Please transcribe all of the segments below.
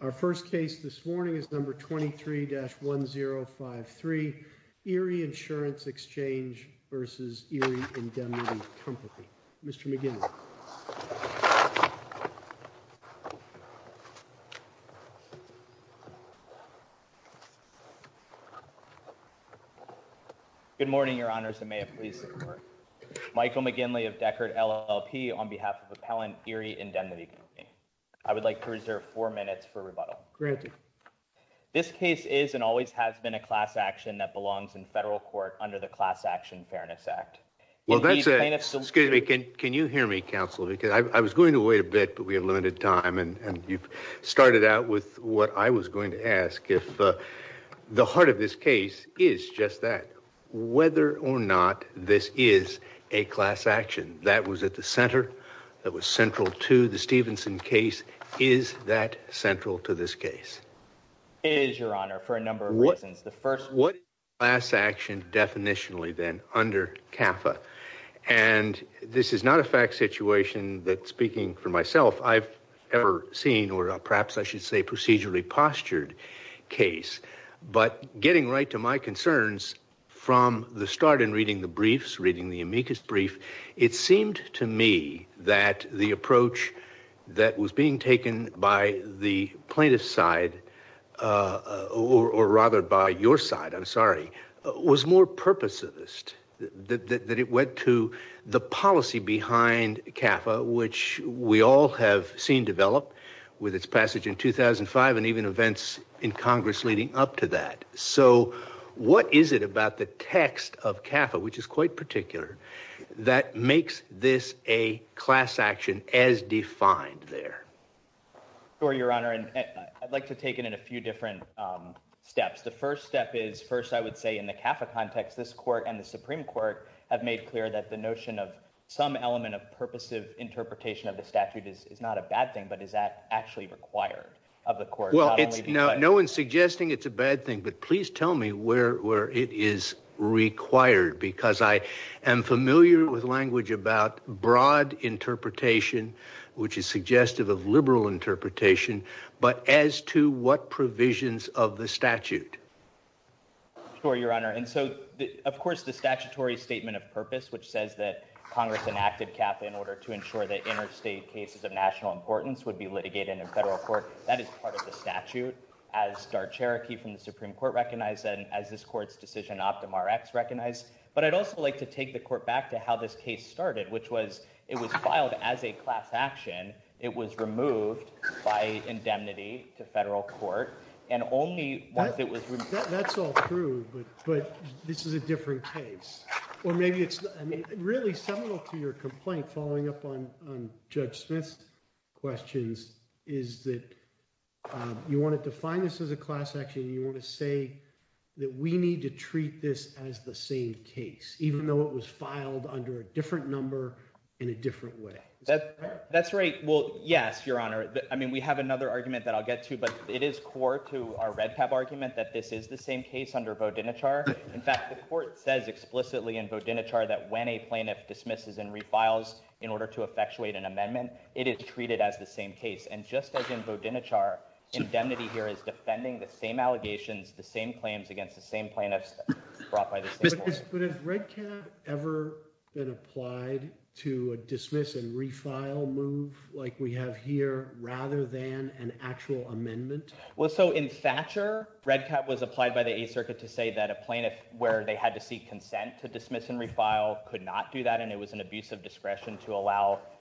Our first case this morning is number 23-1053, Erie Insurance Exchange v. Erie Indemnity Company. Mr. McGinley. Good morning, Your Honors, and may it please the Court. Michael McGinley of Deckard LLP on behalf of Appellant Erie Indemnity Company. I would like to reserve four minutes for rebuttal. This case is and always has been a class action that belongs in federal court under the Class Action Fairness Act. Excuse me, can you hear me, counsel, because I was going to wait a bit, but we have limited time, and you've started out with what I was going to ask. If the heart of this case is just that, whether or not this is a class action that was at the center, that was central to the Stevenson case, is that central to this case? It is, Your Honor, for a number of reasons. What is a class action definitionally then under CAFA? And this is not a fact situation that, speaking for myself, I've ever seen, or perhaps I should say procedurally postured case, but getting right to my concerns from the start in reading the briefs, reading the amicus brief, it seemed to me that the approach that was being taken by the plaintiff's side, or rather by your side, I'm sorry, was more purposivist, that it went to the policy behind CAFA, which we all have seen develop with its passage in 2005 and even events in Congress leading up to that. So what is it about the text of CAFA, which is quite particular, that makes this a class action as defined there? Sure, Your Honor, and I'd like to take it in a few different steps. The first step is, first I would say in the CAFA context, this court and the notion of some element of purposive interpretation of the statute is not a bad thing, but is that actually required of the court? Well, no one's suggesting it's a bad thing, but please tell me where it is required, because I am familiar with language about broad interpretation, which is suggestive of liberal interpretation, but as to what provisions of the Congress enacted CAFA in order to ensure that interstate cases of national importance would be litigated in a federal court, that is part of the statute, as DART Cherokee from the Supreme Court recognized, and as this court's decision OptumRx recognized. But I'd also like to take the court back to how this case started, which was, it was filed as a class action, it was removed by indemnity to federal court, and only once it was— That's all true, but this is a different case, or maybe it's, I mean, really similar to your complaint following up on Judge Smith's questions, is that you want to define this as a class action, you want to say that we need to treat this as the same case, even though it was filed under a different number in a different way. That's right. Well, yes, Your Honor, I mean, we have another argument that I'll get to, but it is core to our REDCAP argument that this is the same case under Bodinichar. In fact, the court says explicitly in Bodinichar that when a plaintiff dismisses and refiles in order to effectuate an amendment, it is treated as the same case. And just as in Bodinichar, indemnity here is defending the same allegations, the same claims against the same plaintiffs brought by the same court. But has REDCAP ever been applied to a dismiss and refile move, like we have here, rather than an actual amendment? Well, so in Thatcher, REDCAP was where they had to seek consent to dismiss and refile, could not do that, and it was an abuse of discretion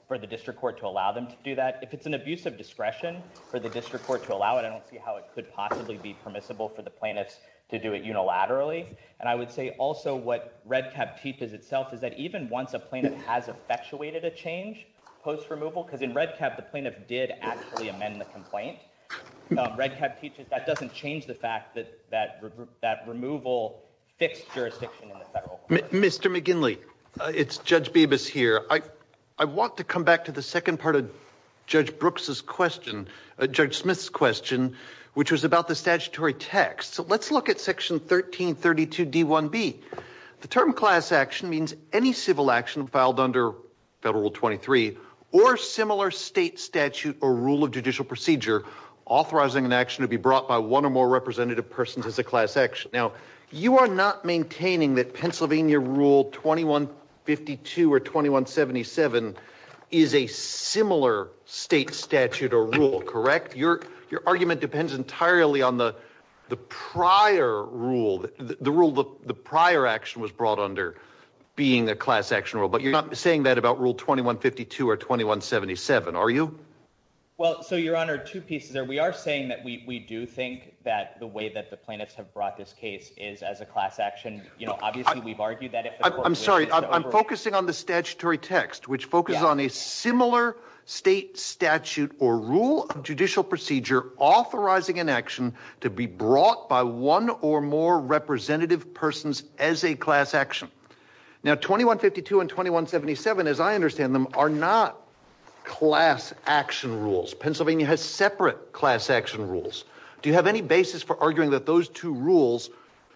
for the district court to allow them to do that. If it's an abuse of discretion for the district court to allow it, I don't see how it could possibly be permissible for the plaintiffs to do it unilaterally. And I would say also what REDCAP teaches itself is that even once a plaintiff has effectuated a change post-removal, because in REDCAP, the plaintiff did actually fix jurisdiction in the federal court. Mr. McGinley, it's Judge Bibas here. I want to come back to the second part of Judge Brooks's question, Judge Smith's question, which was about the statutory text. So let's look at Section 1332d1b. The term class action means any civil action filed under Federal Rule 23 or similar state statute or rule of judicial procedure authorizing an action to be brought by one or more representative persons as a class action. Now, you are not maintaining that Pennsylvania Rule 2152 or 2177 is a similar state statute or rule, correct? Your argument depends entirely on the prior rule, the rule, the prior action was brought under being a class action rule, but you're not saying that about Rule 2152 or 2177, are you? Well, so Your Honor, two pieces there. We are saying that we do think that the way that the case is as a class action, you know, obviously we've argued that. I'm sorry, I'm focusing on the statutory text, which focuses on a similar state statute or rule of judicial procedure authorizing an action to be brought by one or more representative persons as a class action. Now, 2152 and 2177, as I understand them, are not class action rules. Pennsylvania has separate class action rules. Do you have any basis for arguing that those two rules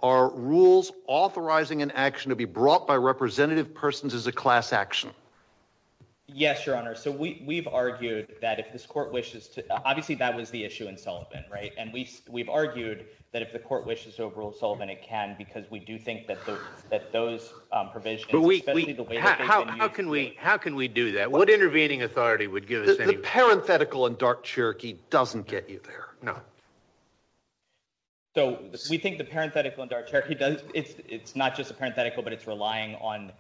are rules authorizing an action to be brought by representative persons as a class action? Yes, Your Honor. So we've argued that if this court wishes to, obviously that was the issue in Sullivan, right? And we've argued that if the court wishes to overrule Sullivan, it can, because we do think that those provisions, especially the way that they've been used. How can we do that? What intervening authority would give The parenthetical in dark Cherokee doesn't get you there. No. So we think the parenthetical in dark Cherokee does, it's not just a parenthetical, but it's relying on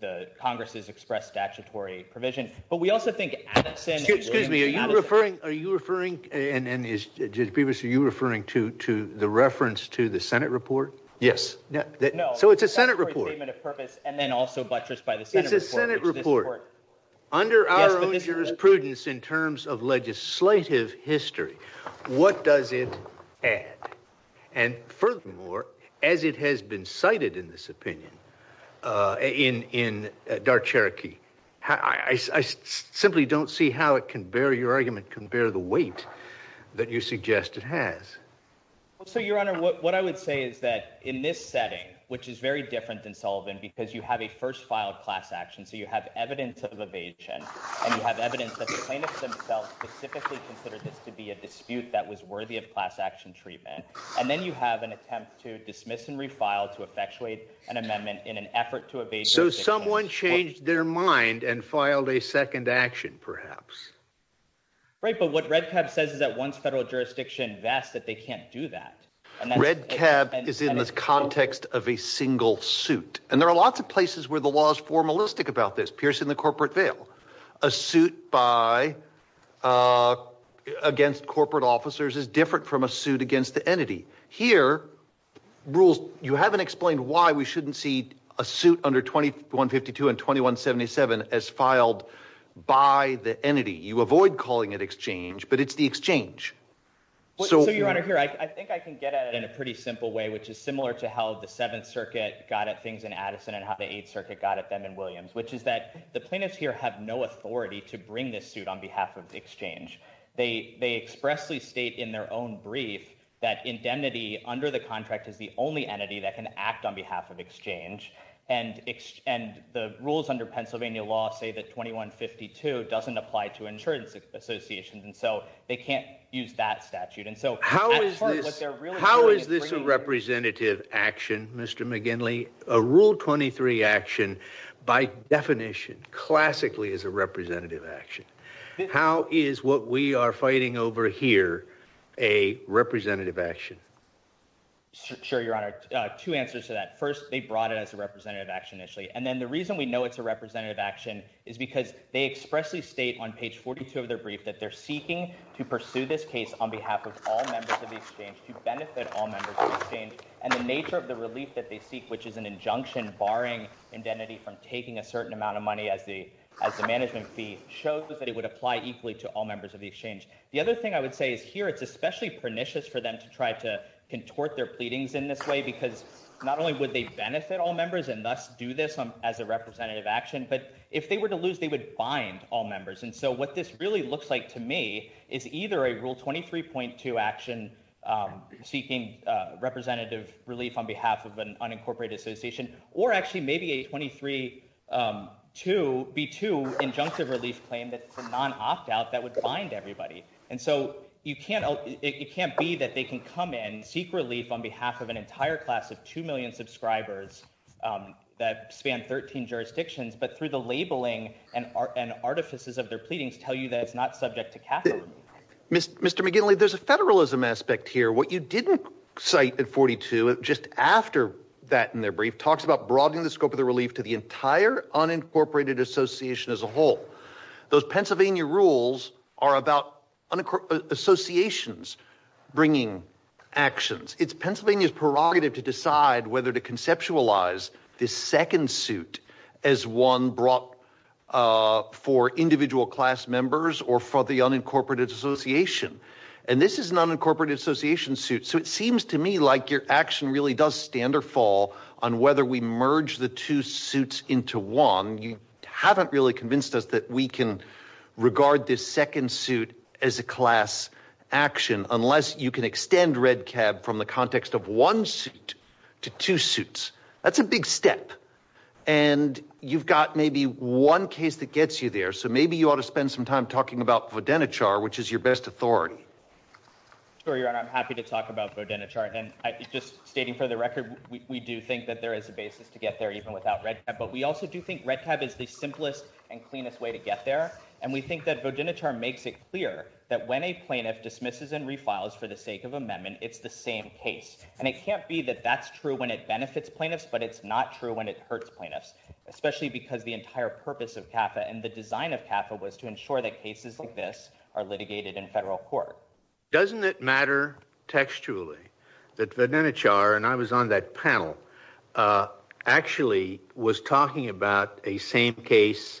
the Congress's expressed statutory provision. But we also think Addison, excuse me, are you referring, are you referring, and is previously you referring to the reference to the Senate report? Yes. So it's a Senate report. And then also buttressed by the Senate report. Under our own jurisprudence in terms of legislative history, what does it add? And furthermore, as it has been cited in this opinion, uh, in, in dark Cherokee, I simply don't see how it can bear your argument, compare the weight that you suggest it has. So Your Honor, what I would say is that in this setting, which is very different than Sullivan, because you have a first filed class action. So you have evidence of evasion and you have evidence that the plaintiffs themselves specifically considered this to be a dispute that was worthy of class action treatment. And then you have an attempt to dismiss and refile to effectuate an amendment in an effort to evade. So someone changed their mind and filed a second action perhaps. Right. But what red cap says is that once federal jurisdiction That's that they can't do that. And that red cap is in the context of a single suit. And there are lots of places where the law is formalistic about this piercing the corporate veil, a suit by, uh, against corporate officers is different from a suit against the entity here rules. You haven't explained why we shouldn't see a suit under 21 52 and 21 77 as filed by the entity. You avoid calling it exchange, but it's the exchange. So Your Honor here, I think I can get at it in a pretty simple way, which is similar to how the seventh circuit got at things in Addison and how the eighth circuit got at them and Williams, which is that the plaintiffs here have no authority to bring this suit on behalf of exchange. They, they expressly state in their own brief that indemnity under the contract is the only exchange. And, and the rules under Pennsylvania law say that 21 52 doesn't apply to insurance associations. And so they can't use that statute. And so how is this, how is this a representative action, Mr. McGinley, a rule 23 action by definition, classically as a representative action. How is what we are fighting over here? A representative action. Sure. Your Honor, two answers to that. First, they brought it as a representative action initially. And then the reason we know it's a representative action is because they expressly state on page 42 of their brief that they're seeking to pursue this case on behalf of all members of the exchange to benefit all members of the exchange. And the nature of the relief that they seek, which is an injunction, barring indemnity from taking a certain amount of money as the, as the management fee shows that it would apply equally to all members of the exchange. The other thing I would say is here, it's especially pernicious for them to try to contort their pleadings in this way, because not only would they benefit all members and thus do this as a representative action, but if they were to lose, they would bind all members. And so what this really looks like to me is either a rule 23.2 action seeking representative relief on behalf of an unincorporated association, or actually maybe a 23 to be to injunctive relief claim that it's a non opt-out that would bind everybody. And so you can't, it can't be that they can come in, seek relief on behalf of an entire class of 2 million subscribers that span 13 jurisdictions, but through the labeling and art and artifices of their pleadings tell you that it's not subject to Catholic. Mr. McGinley, there's a federalism aspect here. What you didn't cite at 42, just after that in their brief talks about broadening the scope of the relief to the Pennsylvania rules are about associations bringing actions. It's Pennsylvania's prerogative to decide whether to conceptualize this second suit as one brought for individual class members or for the unincorporated association. And this is an unincorporated association suit. So it seems to me like your action really does stand or fall on whether we merge the two suits into one. You haven't really convinced us that we can regard this second suit as a class action, unless you can extend Red Cab from the context of one suit to two suits. That's a big step. And you've got maybe one case that gets you there. So maybe you ought to spend some time talking about Vodenichar, which is your best authority. I'm happy to talk about Vodenichar. And I just stating for the record, we do think that there is a basis to get there even without Red Cab, but we also do think Red Cab is the simplest and cleanest way to get there. And we think that Vodenichar makes it clear that when a plaintiff dismisses and refiles for the sake of amendment, it's the same case. And it can't be that that's true when it benefits plaintiffs, but it's not true when it hurts plaintiffs, especially because the entire purpose of CAFA and the design of CAFA was to ensure that cases like this are litigated in federal court. Doesn't it matter textually that Vodenichar, and I was on that panel, actually was talking about a same case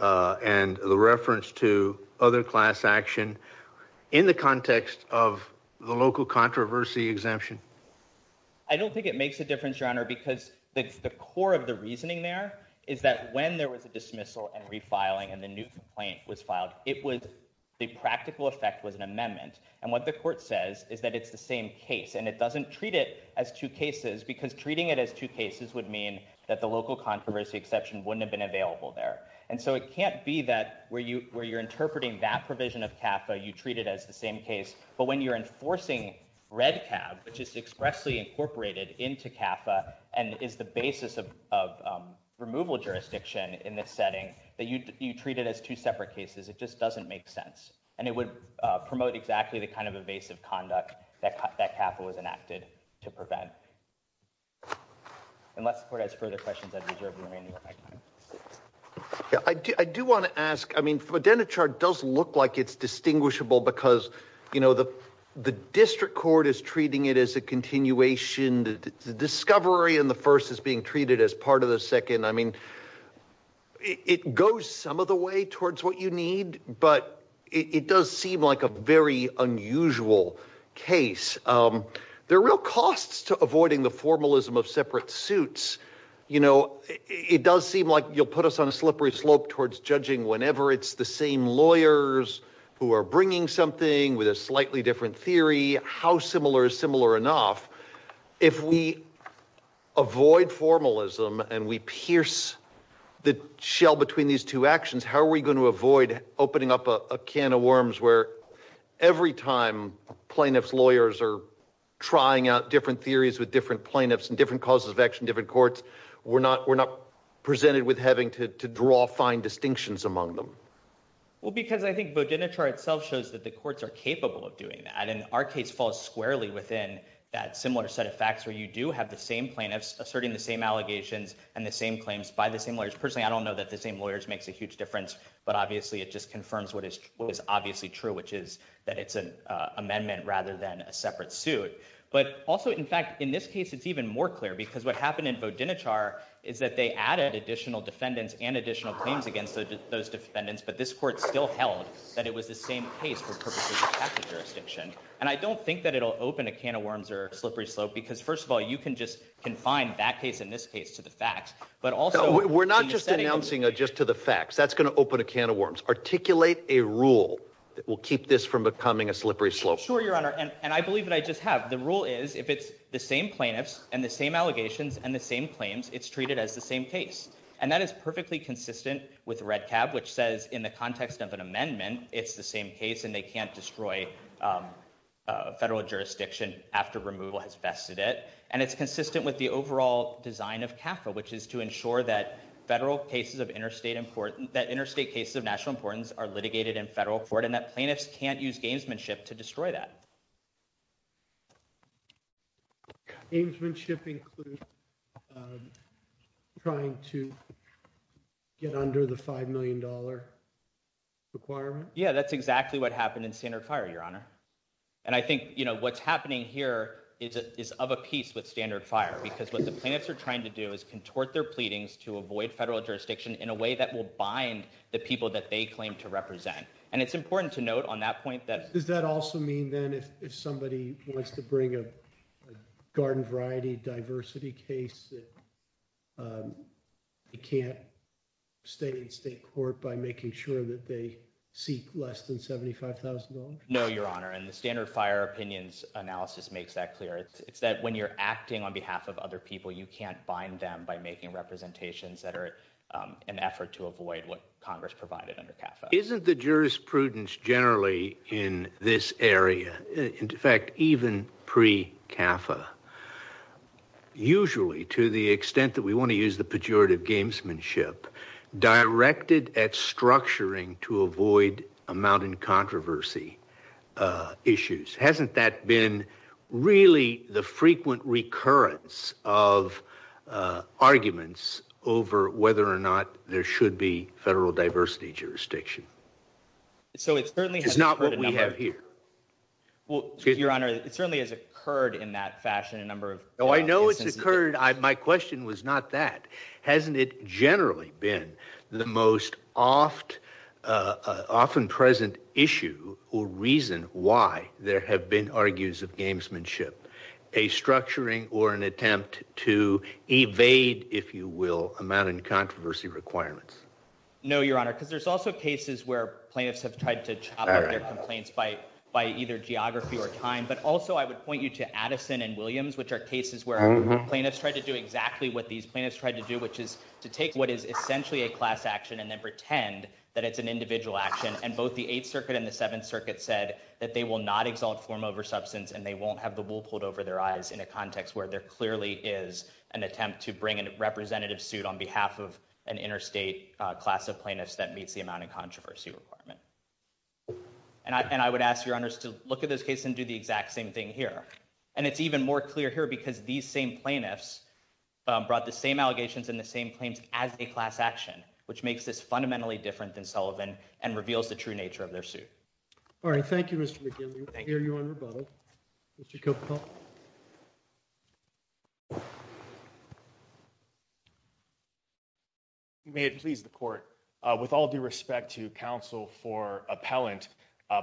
and the reference to other class action in the context of the local controversy exemption? I don't think it makes a difference, Your Honor, because the core of the reasoning there is that when there was a dismissal and refiling and the new complaint was filed, the practical effect was an amendment. And what the court says is that it's the same case and it doesn't treat it as two cases because treating it as two cases would mean that the local controversy exception wouldn't have been available there. And so it can't be that where you're interpreting that provision of CAFA, you treat it as the same case, but when you're enforcing Red Cab, which is expressly incorporated into CAFA and is the basis of removal jurisdiction in this setting, that you treat it as two separate cases, it just doesn't make sense. And it would promote exactly the kind of evasive conduct that CAFA was enacted to prevent. Unless the court has further questions, I'd reserve the remaining of my time. Yeah, I do want to ask, I mean, Vodenichar does look like it's distinguishable because, you know, the district court is treating it as a continuation. The discovery in the first is being treated as part of the second. I mean, it goes some of the way towards what you need, but it does seem like a very unusual case. There are real costs to avoiding the formalism of separate suits. You know, it does seem like you'll put us on a slippery slope towards judging whenever it's the same lawyers who are bringing something with a slightly different theory, how similar is similar enough. If we avoid formalism and we pierce the shell between these two actions, how are we going to avoid opening up a can of worms where every time plaintiff's lawyers are trying out different theories with different plaintiffs and different causes of action, different courts, we're not presented with having to draw fine distinctions among them. Well, because I think Vodenichar itself shows that the courts are capable of doing that. And our case falls squarely within that similar set of facts where you do have the same plaintiffs asserting the same allegations and the same claims by the same lawyers. Personally, I don't know that the same lawyers makes a huge difference, but obviously it just confirms what is obviously true, which is that it's an amendment rather than a separate suit. But also, in fact, in this case, it's even more clear because what happened in Vodenichar is that they added additional defendants and additional claims against those defendants, but this court still held that it was the same case for purposes of tax jurisdiction. And I don't think that it'll open a can of worms or slippery slope because first of all, you can just confine that case in this case to the facts, but also... We're not just announcing just to the facts. That's going to open a can of worms. Articulate a rule that will keep this from becoming a slippery slope. Sure, Your Honor. And I believe that I just have. The rule is if it's the same plaintiffs and the same allegations and the same claims, it's treated as the same case. And that is perfectly consistent with Red Cab, which says in the context of an amendment, it's the same case and they can't destroy federal jurisdiction after removal has vested it. And it's consistent with the overall design of CAFA, which is to ensure that interstate cases of national importance are litigated in federal court and that plaintiffs can't use gamesmanship to destroy that. Gamesmanship includes trying to get under the $5 million requirement? Yeah, that's exactly what happened in Standard Fire, Your Honor. And I think what's happening here is of a piece with Standard Fire because what the plaintiffs are trying to do is contort their pleadings to avoid federal jurisdiction in a way that will bind the people that they claim to represent. And it's if somebody wants to bring a garden variety diversity case, they can't stay in state court by making sure that they seek less than $75,000. No, Your Honor. And the Standard Fire opinions analysis makes that clear. It's that when you're acting on behalf of other people, you can't bind them by making representations that are an effort to avoid what Congress provided under CAFA. Isn't the jurisprudence generally in this area, in fact, even pre-CAFA, usually to the extent that we want to use the pejorative gamesmanship, directed at structuring to avoid amounting controversy issues. Hasn't that been really the frequent recurrence of arguments over whether or not there should be federal diversity jurisdiction? It's not what we have here. Well, Your Honor, it certainly has occurred in that fashion a number of times. No, I know it's occurred. My question was not that. Hasn't it generally been the most often present issue or reason why there have been argues of gamesmanship, a structuring or an attempt to evade, if you will, amounting controversy requirements? No, Your Honor, because there's also cases where plaintiffs have tried to chop up their complaints by either geography or time. But also I would point you to Addison and Williams, which are cases where plaintiffs tried to do exactly what these plaintiffs tried to do, which is to take what is essentially a class action and then pretend that it's an individual action. And both the Eighth Circuit and the Seventh Circuit said that they will not exalt form over substance and they won't have the wool pulled over their eyes in a context where there clearly is an attempt to bring a representative suit on behalf of an interstate class of plaintiffs that meets the amount of controversy requirement. And I would ask Your Honors to look at this case and do the exact same thing here. And it's even more clear here because these same plaintiffs brought the same allegations and the same claims as a class action, which makes this fundamentally different than Sullivan and reveals the true nature of their suit. All right. Thank you, Mr. McGill. I hear you on rebuttal, Mr. Cooper. May it please the court. With all due respect to counsel for appellant,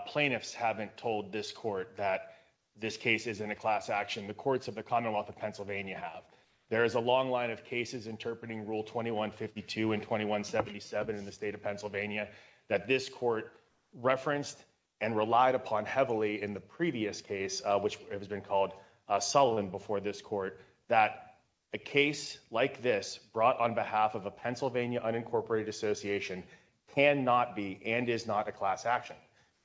plaintiffs haven't told this court that this case is in a class action. The courts of the Commonwealth of Pennsylvania have. There is a long line of cases interpreting Rule 21-52 and 21-77 in the state of Pennsylvania that this court referenced and relied upon heavily in the previous case, which has been called Sullivan before this court, that a case like this brought on behalf of a Pennsylvania unincorporated association can not be and is not a class action.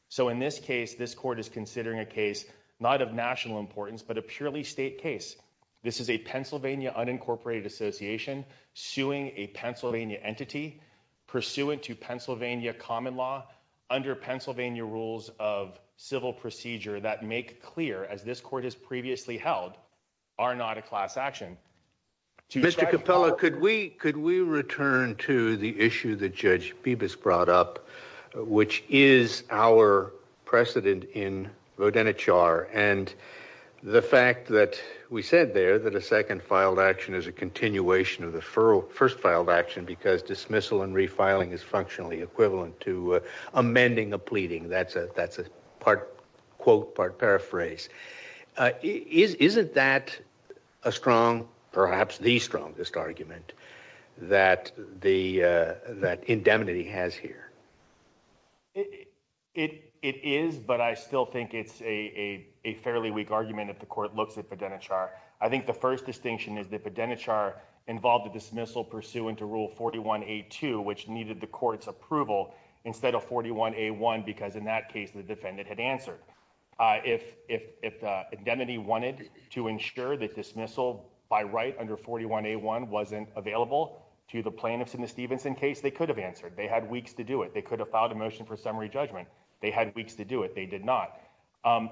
So in this case, this court is considering a case not of national importance, but a purely state case. This is a Pennsylvania unincorporated association suing a Pennsylvania entity pursuant to Pennsylvania common law under Pennsylvania rules of civil procedure that make clear, as this court has previously held, are not a class action. Mr. Capella, could we could we return to the issue that Judge Bibas brought up, which is our precedent in Rodanichar and the fact that we said there that a second filed action is a continuation of the first filed action because dismissal and refiling is functionally equivalent to amending a pleading. That's a part quote, part paraphrase. Isn't that a strong, perhaps the strongest argument that indemnity has here? It is, but I still think it's a fairly weak argument if the court looks at Rodanichar. I think the first distinction is that Rodanichar involved a dismissal pursuant to Rule 41-A-2, which needed the court's approval instead of 41-A-1, because in that case, the defendant had answered. If indemnity wanted to ensure that dismissal by right under 41-A-1 wasn't available to the plaintiffs in the Stevenson case, they could have answered. They had weeks to do it. They could have filed a motion for summary judgment. They had weeks to do it. They did not.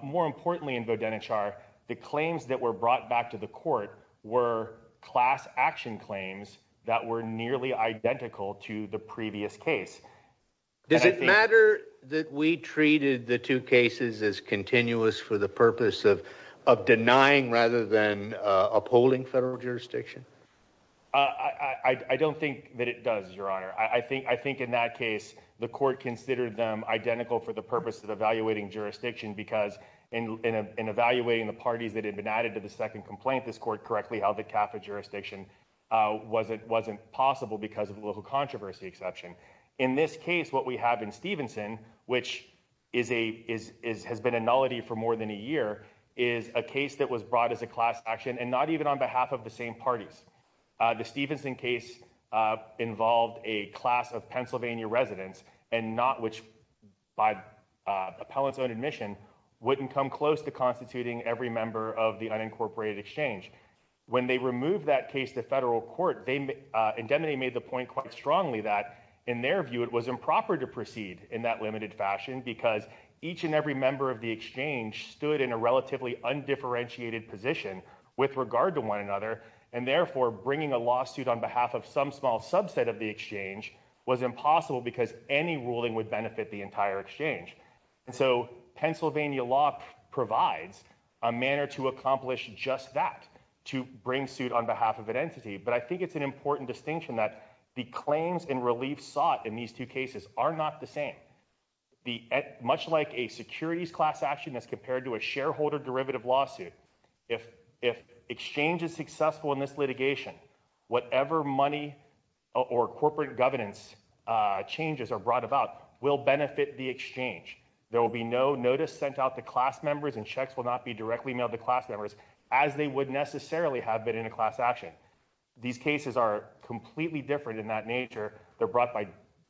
More importantly in Rodanichar, the claims that were brought back to the court were class action claims that were nearly identical to the previous case. Does it matter that we treated the two cases as continuous for the purpose of denying rather than upholding federal jurisdiction? I don't think that it does, Your Honor. I think in that case, the court considered them identical for the purpose of evaluating jurisdiction because in evaluating the parties that had been added to the second complaint, this court correctly held that capital jurisdiction wasn't possible because of a little controversy exception. In this case, what we have in Stevenson, which has been a nullity for more than a year, is a case that was brought as a class action and not even on behalf of the same parties. The Stevenson case involved a class of Pennsylvania residents and not which, by appellant's own admission, wouldn't come close to constituting every member of the unincorporated exchange. When they removed that case to federal court, indemnity made the point quite strongly that in their view it was improper to proceed in that limited fashion because each and every member of the exchange stood in a relatively undifferentiated position with regard to one another and therefore bringing a lawsuit on behalf of some small subset of the exchange was impossible because any ruling would benefit the entire exchange. So Pennsylvania law provides a manner to accomplish just that, to bring suit on behalf of an entity, but I think it's an important distinction that the claims and relief sought in these two cases are not the same. Much like a securities class action as compared to a shareholder derivative lawsuit, if exchange is successful in this litigation, whatever money or corporate governance changes are brought about will benefit the exchange. There will be no notice sent out to class members and checks will not be directly mailed to class members as they would necessarily have been in a class action. These cases are completely different in that nature. They're brought by a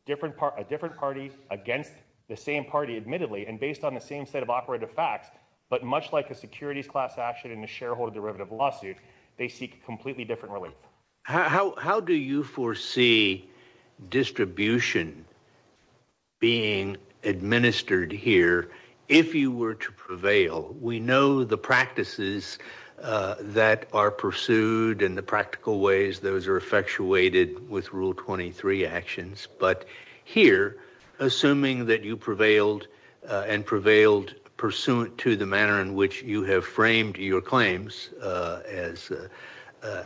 different party against the same party, admittedly, and based on the same set of operative facts, but much like a securities class action in a shareholder derivative lawsuit, they seek completely different relief. How do you foresee distribution being administered here if you were to prevail? We know the practices that are pursued and the practical ways those are effectuated with Rule 23 actions, but here, assuming that you prevailed and prevailed pursuant to the manner in which you have framed your claims as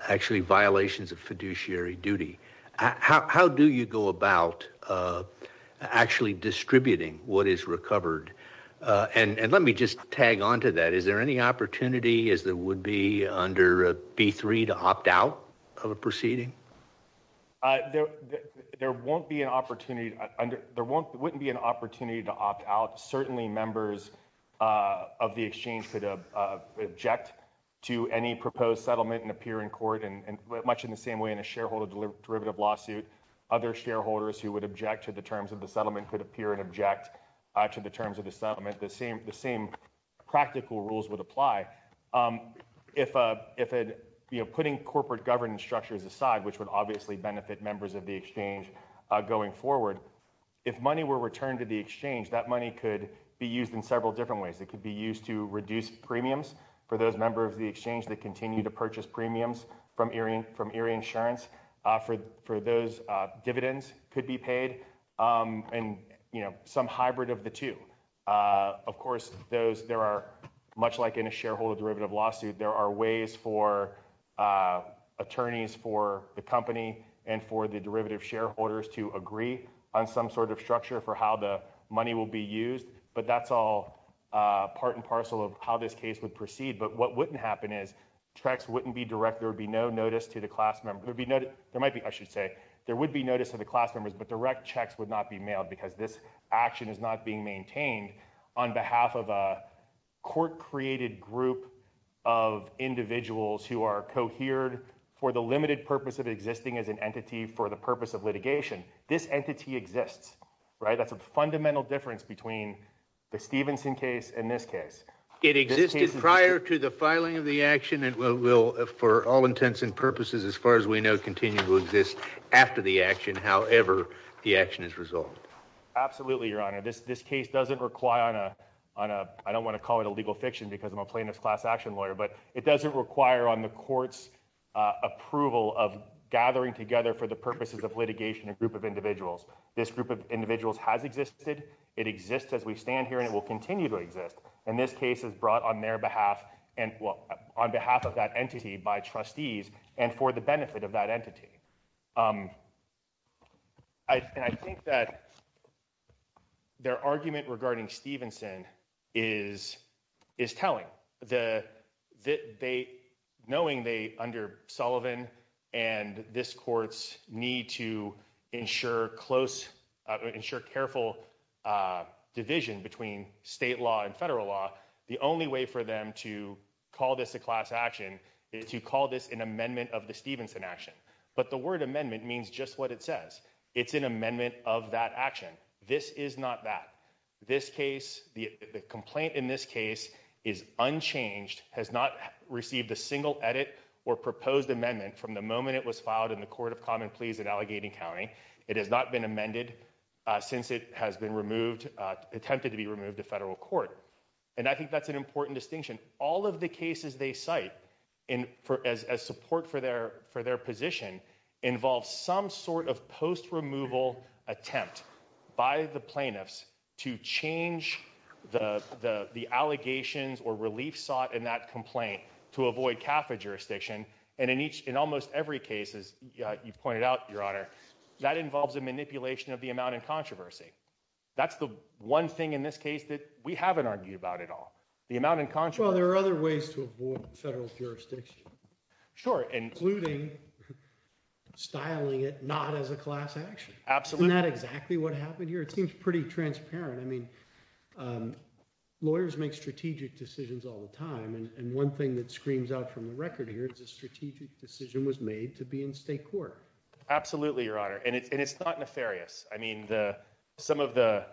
actually violations of fiduciary duty, how do you go about actually distributing what is recovered? And let me just tag onto that. Is there any opportunity, as there would be under B3, to opt out of a proceeding? There won't be an opportunity. There wouldn't be an opportunity to opt out. Certainly members of the exchange could object to any proposed settlement and appear in court, and much in the same way in a shareholder derivative lawsuit, other shareholders who would object to the terms of the settlement could appear and object to the terms of the settlement. The same practical rules would apply. Putting corporate governance structures aside, which would obviously benefit members of the exchange going forward, if money were returned to the exchange, that money could be used in several different ways. It could be used to reduce premiums for those members of the exchange that continue to purchase premiums from Erie Insurance for those dividends could be paid, and some hybrid of the two. Of course, there are, much like in a shareholder derivative lawsuit, there are ways for attorneys for the company and for the derivative shareholders to agree on some sort of structure for how the money will be used, but that's all part and parcel of how this case would proceed. But what wouldn't happen is checks wouldn't be direct. There would be no notice to the class member. There might be, I should say, there would be notice of the class members, but direct checks would not be mailed because this action is not being maintained on behalf of a court-created group of individuals who are cohered for the limited purpose of existing as an entity for the purpose of litigation. This entity exists, right? That's a fundamental difference between the Stevenson case and this case. It existed prior to the filing of the action and will, for all intents and purposes, as far as we know, continue to exist after the action, however the action is resolved. Absolutely, Your Honor. This case doesn't require on a, I don't want to call it a legal fiction because I'm a plaintiff's class action lawyer, but it doesn't require on the court's approval of gathering together for the purposes of litigation a group of individuals. This group of individuals has existed. It exists as we stand here and it will continue to exist, and this case is brought on their behalf and, well, on behalf of that entity by trustees and for the benefit of that entity. I think that their argument regarding Stevenson is telling. Knowing they, under Sullivan and this court's to ensure close, ensure careful division between state law and federal law, the only way for them to call this a class action is to call this an amendment of the Stevenson action. But the word amendment means just what it says. It's an amendment of that action. This is not that. This case, the complaint in this case is unchanged, has not received a single edit or proposed amendment from the moment it was filed in the Court of Common Pleas in Allegheny County. It has not been amended since it has been removed, attempted to be removed to federal court. And I think that's an important distinction. All of the cases they cite in for as support for their for their position involves some sort of post removal attempt by the plaintiffs to change the the the allegations or relief sought in that complaint to avoid CAFA jurisdiction. And in each in almost every case, as you pointed out, your honor, that involves a manipulation of the amount in controversy. That's the one thing in this case that we haven't argued about at all. The amount in control. There are other ways to avoid federal jurisdiction. Sure. And including styling it not as a class action. Absolutely not exactly what happened here. It seems pretty transparent. I mean, lawyers make strategic decisions all the time. And one thing that screams out from the record here is a strategic decision was made to be in state court. Absolutely, your honor. And it's not nefarious. I mean, the some of the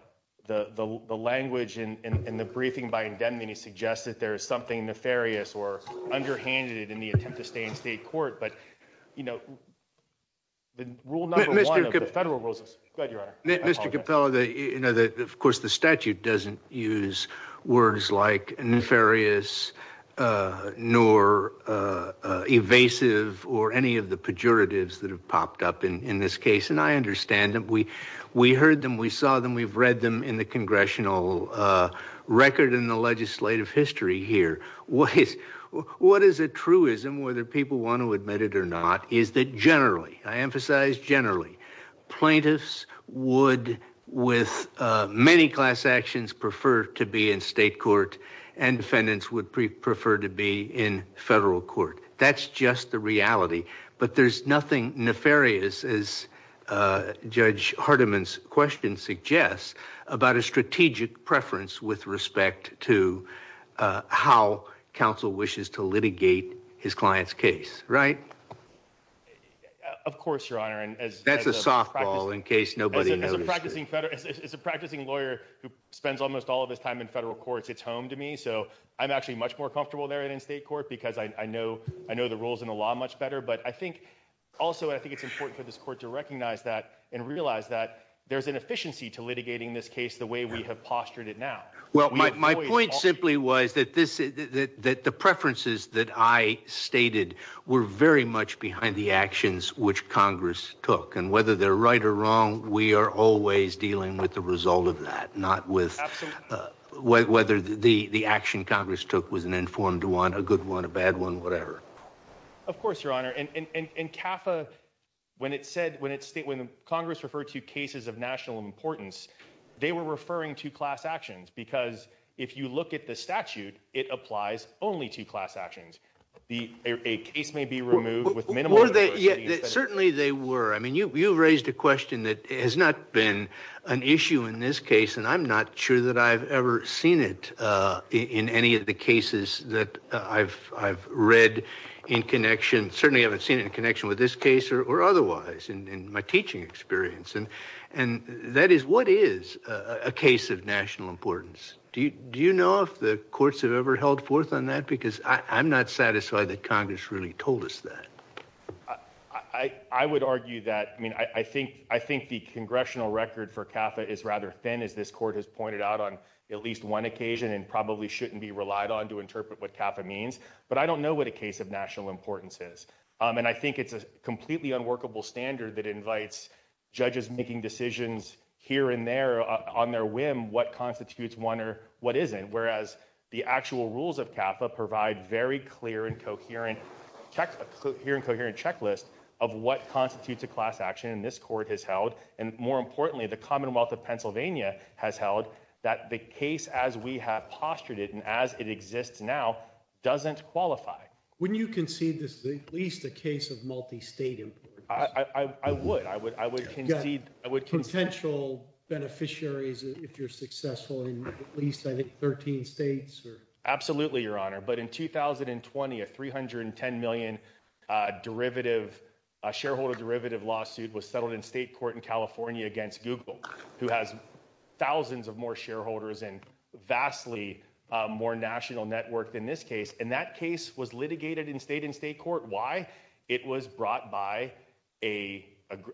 the the language in the briefing by indemnity suggests that there is something nefarious or underhanded in the attempt to stay in state court. But, you know, the rule number one of the federal rules is that you are of course, the statute doesn't use words like nefarious nor evasive or any of the pejoratives that have popped up in this case. And I understand that we we heard them. We saw them. We've read them in the congressional record in the legislative history here. What is what is a truism, whether people want to admit it or not, is that generally I emphasize generally plaintiffs would with many class actions prefer to be in state court and defendants would prefer to be in federal court. That's just the reality. But there's nothing nefarious as Judge Hardiman's question suggests about a strategic preference with respect to how counsel wishes to litigate his client's case. Right. Of course, your honor. And that's a softball in case nobody practicing. It's a practicing lawyer who spends almost all of his time in federal courts. It's home to me. So I'm actually much more comfortable there in state court because I know I know the rules in the law much better. But I think also I think it's important for this court to recognize that and realize that there's an efficiency to litigating this case the way we have postured it now. Well, my point simply was that this is that the preferences that I stated were very much behind the actions which Congress took and whether they're right or wrong. We are always dealing with the result of that, not with whether the action Congress took was an informed one, a good one, a bad one, whatever. Of course, your honor. And CAFA, when it said when it's state when Congress referred to cases of national importance, they were referring to class actions because if you look at the statute, it applies only to class actions. The case may be removed yet. Certainly they were. I mean, you raised a question that has not been an issue in this case, and I'm not sure that I've ever seen it in any of the cases that I've I've read in connection. Certainly I haven't seen in connection with this case or otherwise in my teaching experience. And that is what is a case of national importance. Do you know if the courts have ever held forth on that? Because I'm not satisfied that Congress really told us that. I would argue that. I mean, I think I think the congressional record for CAFA is rather thin, as this court has pointed out on at least one occasion and probably shouldn't be relied on to interpret what CAFA means. But I don't know what a case of national importance is. And I think it's a completely unworkable standard that invites judges making decisions here and on their whim what constitutes one or what isn't, whereas the actual rules of CAFA provide very clear and coherent checklists of what constitutes a class action. And this court has held, and more importantly, the Commonwealth of Pennsylvania has held that the case as we have postured it and as it exists now doesn't qualify. Wouldn't you concede this is at least a case of multi-state importance? I would. I would concede. Potential beneficiaries, if you're successful, in at least, I think, 13 states? Absolutely, Your Honor. But in 2020, a $310 million shareholder derivative lawsuit was settled in state court in California against Google, who has thousands of more shareholders and vastly more national network than this case. And that case was litigated in state and state court. Why? It was brought by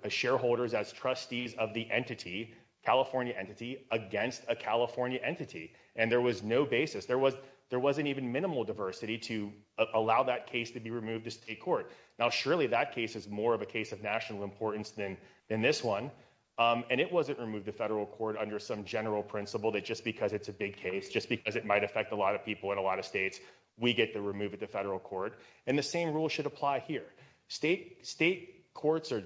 shareholders as trustees of the entity, California entity, against a California entity. And there was no basis. There wasn't even minimal diversity to allow that case to be removed to state court. Now, surely that case is more of a case of national importance than this one. And it wasn't removed to federal court under some general principle that just because it's a big case, just because it might affect a lot of people in a lot of states, we get to remove it to federal court. And the same rule should apply here. State courts are,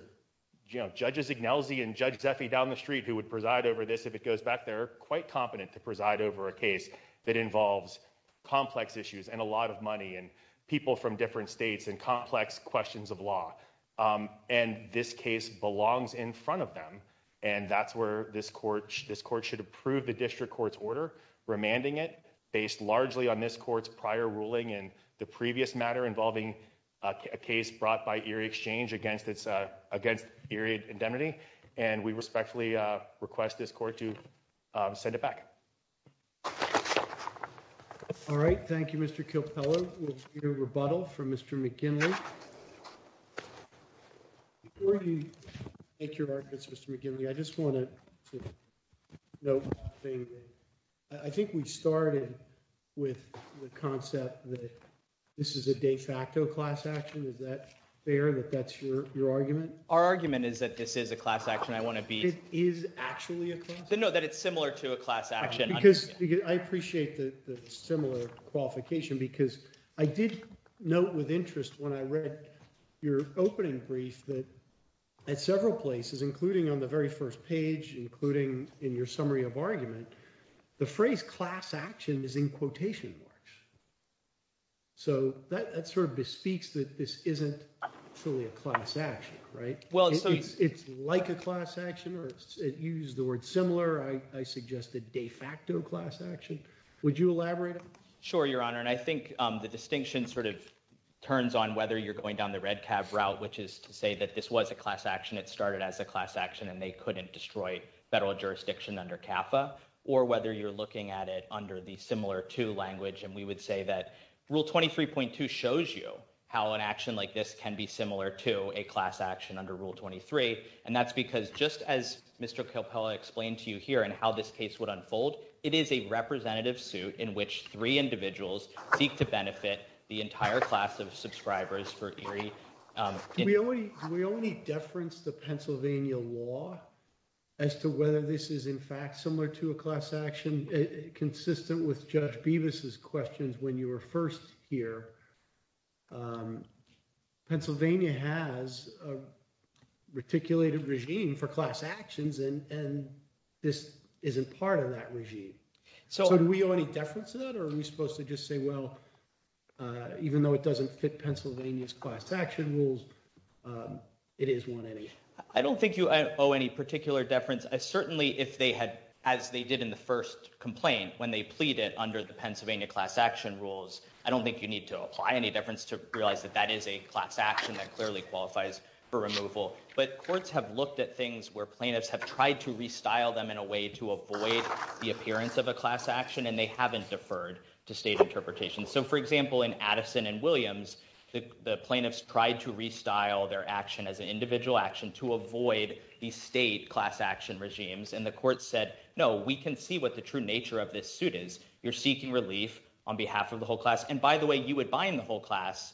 you know, Judges Ignellsi and Judge Zeffie down the street who would preside over this if it goes back. They're quite competent to preside over a case that involves complex issues and a lot of money and people from different states and complex questions of law. And this case belongs in front of them. And that's where this court should approve the district court's order, remanding it based largely on this court's prior ruling in the previous matter involving a case brought by Erie Exchange against Erie Indemnity. And we respectfully request this court to send it back. All right. Thank you, Mr. Kilpella. We'll hear rebuttal from Mr. McKinley. Before you make your arguments, Mr. McKinley, I just want to note one thing. I think we started with the concept that this is a de facto class action. Is that fair that that's your argument? Our argument is that this is a class action. I want to be. It is actually a class action? No, that it's similar to a class action. I appreciate the similar qualification, because I did note with interest when I read your opening brief that at several places, including on the very first page, including in your summary of argument, the phrase class action is in quotation marks. So that sort of bespeaks that this isn't truly a class action, right? It's like a class action, you used the word similar. I suggested de facto class action. Would you elaborate? Sure, Your Honor. And I think the distinction sort of turns on whether you're going down the red cab route, which is to say that this was a class action, it started as a class action, and they couldn't destroy federal jurisdiction under CAFA, or whether you're looking at it under the similar to language. And we would say that Rule 23.2 shows you how an action like this can be similar to a class action under Rule 23. And that's because just as Mr. Capella explained to you here and how this case would unfold, it is a representative suit in which three individuals seek to benefit the entire class of subscribers for ERIE. We only deference the Pennsylvania law as to whether this is in fact similar to a class action, consistent with Judge Bevis's questions when you were first here. Pennsylvania has a reticulated regime for class actions, and this isn't part of that regime. So do we owe any deference to that? Or are we supposed to just say, well, even though it doesn't fit Pennsylvania's class action rules, it is one anyway? I don't think you owe any particular deference. Certainly, as they did in the first complaint, when they pleaded under the Pennsylvania class action rules, I don't think you need to apply any deference to realize that that is a class action that clearly qualifies for removal. But courts have looked at things where plaintiffs have tried to restyle them in a way to avoid the appearance of a class action, and they haven't deferred to state interpretation. So for example, in Addison and Williams, the plaintiffs tried to restyle their action as an individual action to avoid the state class action regimes. And the court said, no, we can see what the true nature of this suit is. You're seeking relief on behalf of the whole class. And by the way, you would bind the whole class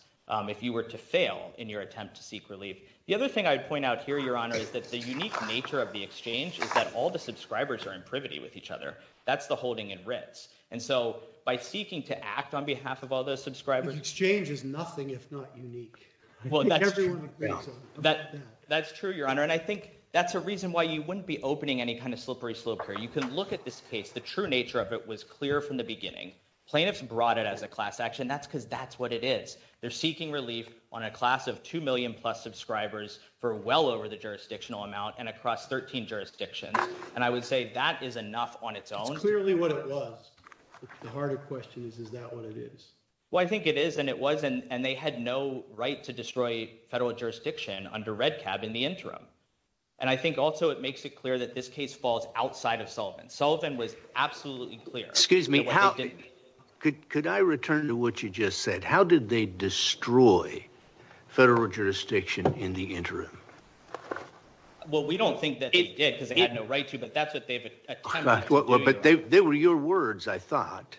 if you were to fail in your attempt to seek relief. The other thing I would point out here, Your Honor, is that the unique nature of the exchange is that all the subscribers are in privity with each other. That's the holding in writs. And so by seeking to act on behalf of all those subscribers— The exchange is nothing if not unique. I think everyone agrees on that. That's true, Your Honor. And I think that's a reason why you wouldn't be opening any kind of slippery slope here. You can look at this case. The true nature of it was clear from the beginning. Plaintiffs brought it as a class action. That's because that's what it is. They're seeking relief on a class of 2 million plus subscribers for well over the jurisdictional amount and across 13 jurisdictions. And I would say that is enough on its own. It's clearly what it was. The harder question is, is that what it is? Well, I think it is and it wasn't. And they had no right to destroy federal jurisdiction under REDCAB in the interim. And I think also it makes it clear that this case falls outside of Sullivan. Sullivan was absolutely clear. Excuse me. Could I return to what you just said? How did they destroy federal jurisdiction in the interim? Well, we don't think that they did because they had no right to, but that's what they've attempted to do. They were your words, I thought.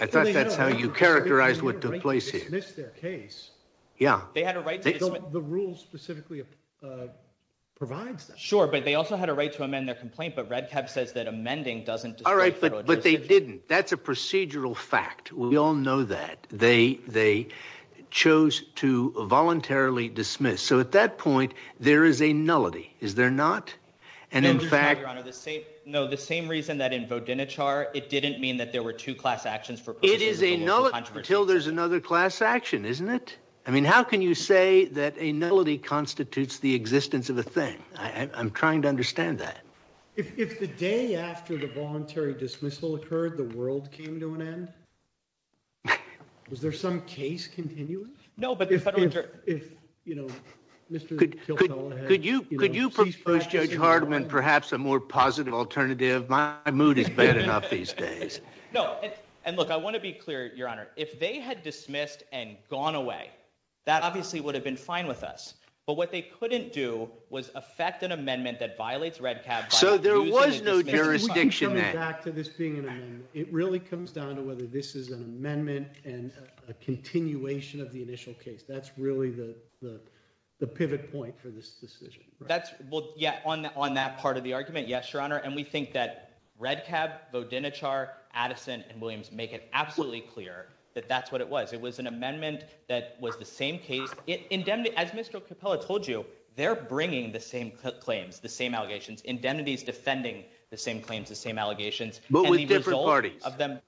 I thought that's how you characterized what took place here. They had a right to dismiss their case. The rule specifically provides that. Sure, but they also had a right to amend their complaint, but REDCAB says that amending doesn't destroy federal jurisdiction. All right, but they didn't. That's a procedural fact. We all know that. They chose to voluntarily dismiss. So at that point, there is a nullity. Is there not? And in fact... No, the same reason that in Vodinichar, it didn't mean that there were two class actions for... It is a nullity until there's another class action, isn't it? I mean, how can you say that a nullity constitutes the existence of a thing? I'm trying to understand that. If the day after the voluntary dismissal occurred, the world came to an end, was there some case continuing? No, but the federal jurisdiction... If, you know, Mr. Kilkella had... Could you propose, Judge Hardiman, perhaps a more positive alternative? My mood is bad enough these days. No, and look, I want to be clear, Your Honor. If they had dismissed and gone away, that obviously would have been fine with us, but what they couldn't do was affect an amendment that violates REDCAB... So there was no jurisdiction there. We can come back to this It really comes down to whether this is an amendment and a continuation of the initial case. That's really the pivot point for this decision. Well, yeah, on that part of the argument, yes, Your Honor, and we think that REDCAB, Vodinichar, Addison, and Williams make it absolutely clear that that's what it was. It was an amendment that was the same case. As Mr. Kilkella told you, they're bringing the same claims, the same allegations. Indemnity is of them.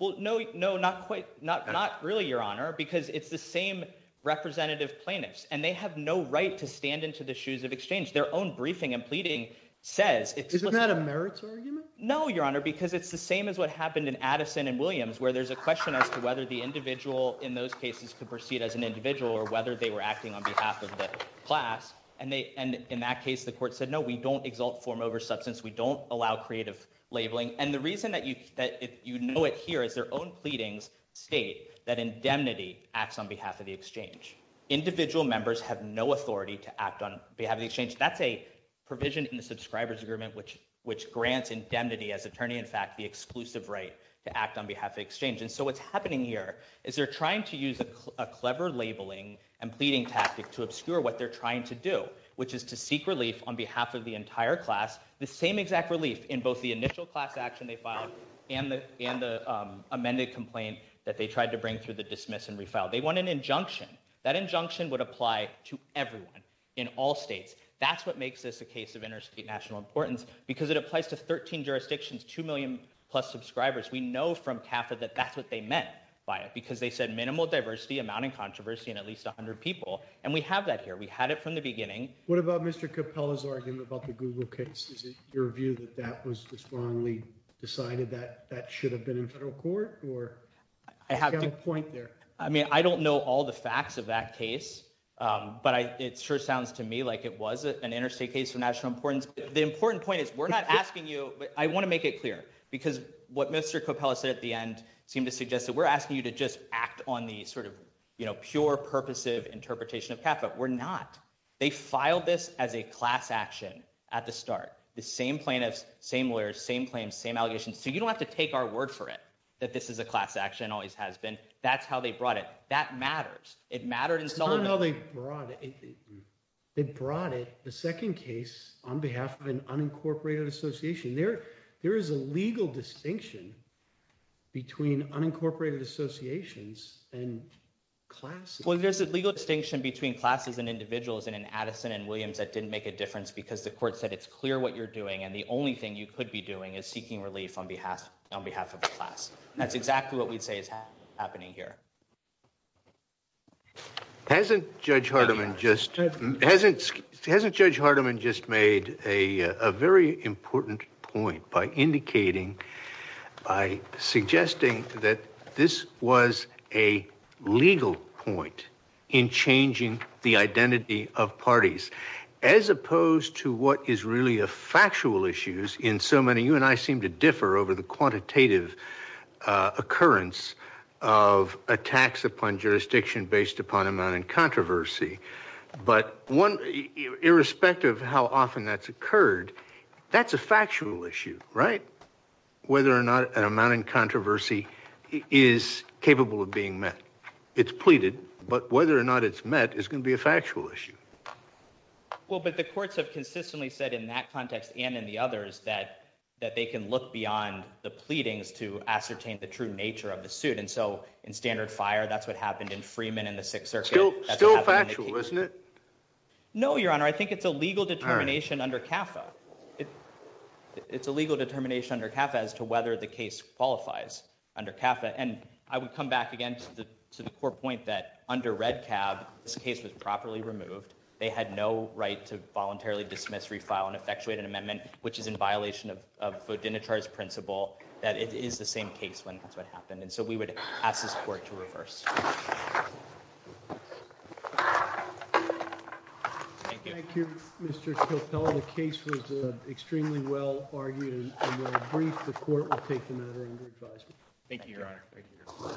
Well, no, no, not quite. Not really, Your Honor, because it's the same representative plaintiffs, and they have no right to stand into the shoes of exchange. Their own briefing and pleading says... Isn't that a merits argument? No, Your Honor, because it's the same as what happened in Addison and Williams, where there's a question as to whether the individual in those cases could proceed as an individual or whether they were acting on behalf of the class, and in that case, the court said, no, we don't exalt form over substance. We don't allow creative labeling, and the reason that you know it here is their own pleadings state that indemnity acts on behalf of the exchange. Individual members have no authority to act on behalf of the exchange. That's a provision in the Subscriber's Agreement, which grants indemnity as attorney, in fact, the exclusive right to act on behalf of the exchange, and so what's happening here is they're trying to use a clever labeling and pleading tactic to obscure what they're trying to do, which is to seek relief on behalf of the entire class, the same exact relief in both the initial class action they filed and the amended complaint that they tried to bring through the dismiss and refile. They want an injunction. That injunction would apply to everyone in all states. That's what makes this a case of interstate national importance, because it applies to 13 jurisdictions, 2 million plus subscribers. We know from CAFA that that's what they meant by it, because they said minimal diversity, amounting controversy, and at least 100 people, and we have that here. We had it from the beginning. What about Mr. Capella's argument about the Google case? Is it your view that that was wrongly decided that that should have been in federal court? I have a point there. I mean, I don't know all the facts of that case, but it sure sounds to me like it was an interstate case of national importance. The important point is we're not asking you—I want to make it clear, because what Mr. Capella said at the end seemed to suggest that we're asking you to just act on the sort of, you know, pure, purposive interpretation of CAFA. We're not. They filed this as a class action at the start. The same plaintiffs, same lawyers, same claims, same allegations, so you don't have to take our word for it that this is a class action and always has been. That's how they brought it. That matters. It mattered in Sullivan. It's not how they brought it. They brought it, the second case, on behalf of an unincorporated association. There is a legal distinction between unincorporated associations and classes. There's a legal distinction between classes and individuals, and in Addison and Williams, that didn't make a difference because the court said, it's clear what you're doing and the only thing you could be doing is seeking relief on behalf of the class. That's exactly what we'd say is happening here. Hasn't Judge Hardiman just made a very important point by indicating, by suggesting that this was a legal point in changing the identity of parties, as opposed to what is really a factual issues in so many. You and I seem to differ over the quantitative occurrence of attacks upon jurisdiction based upon amount and controversy, but irrespective of how often that's occurred, that's a factual issue, whether or not an amount in controversy is capable of being met. It's pleaded, but whether or not it's met is going to be a factual issue. Well, but the courts have consistently said in that context and in the others that they can look beyond the pleadings to ascertain the true nature of the suit. In standard fire, that's what happened in Freeman and the Sixth Circuit. Still factual, isn't it? No, Your Honor. I think it's a legal determination under CAFA. It's a legal determination under CAFA as to whether the case qualifies under CAFA. And I would come back again to the core point that under Red Cab, this case was properly removed. They had no right to voluntarily dismiss, refile and effectuate an amendment, which is in violation of Vodinichar's principle, that it is the same case when that's what happened. And so we would ask this court to reverse. Thank you. Thank you, Mr. Chotel. The case was extremely well argued and well briefed. The court will take the matter under advisement. Thank you, Your Honor.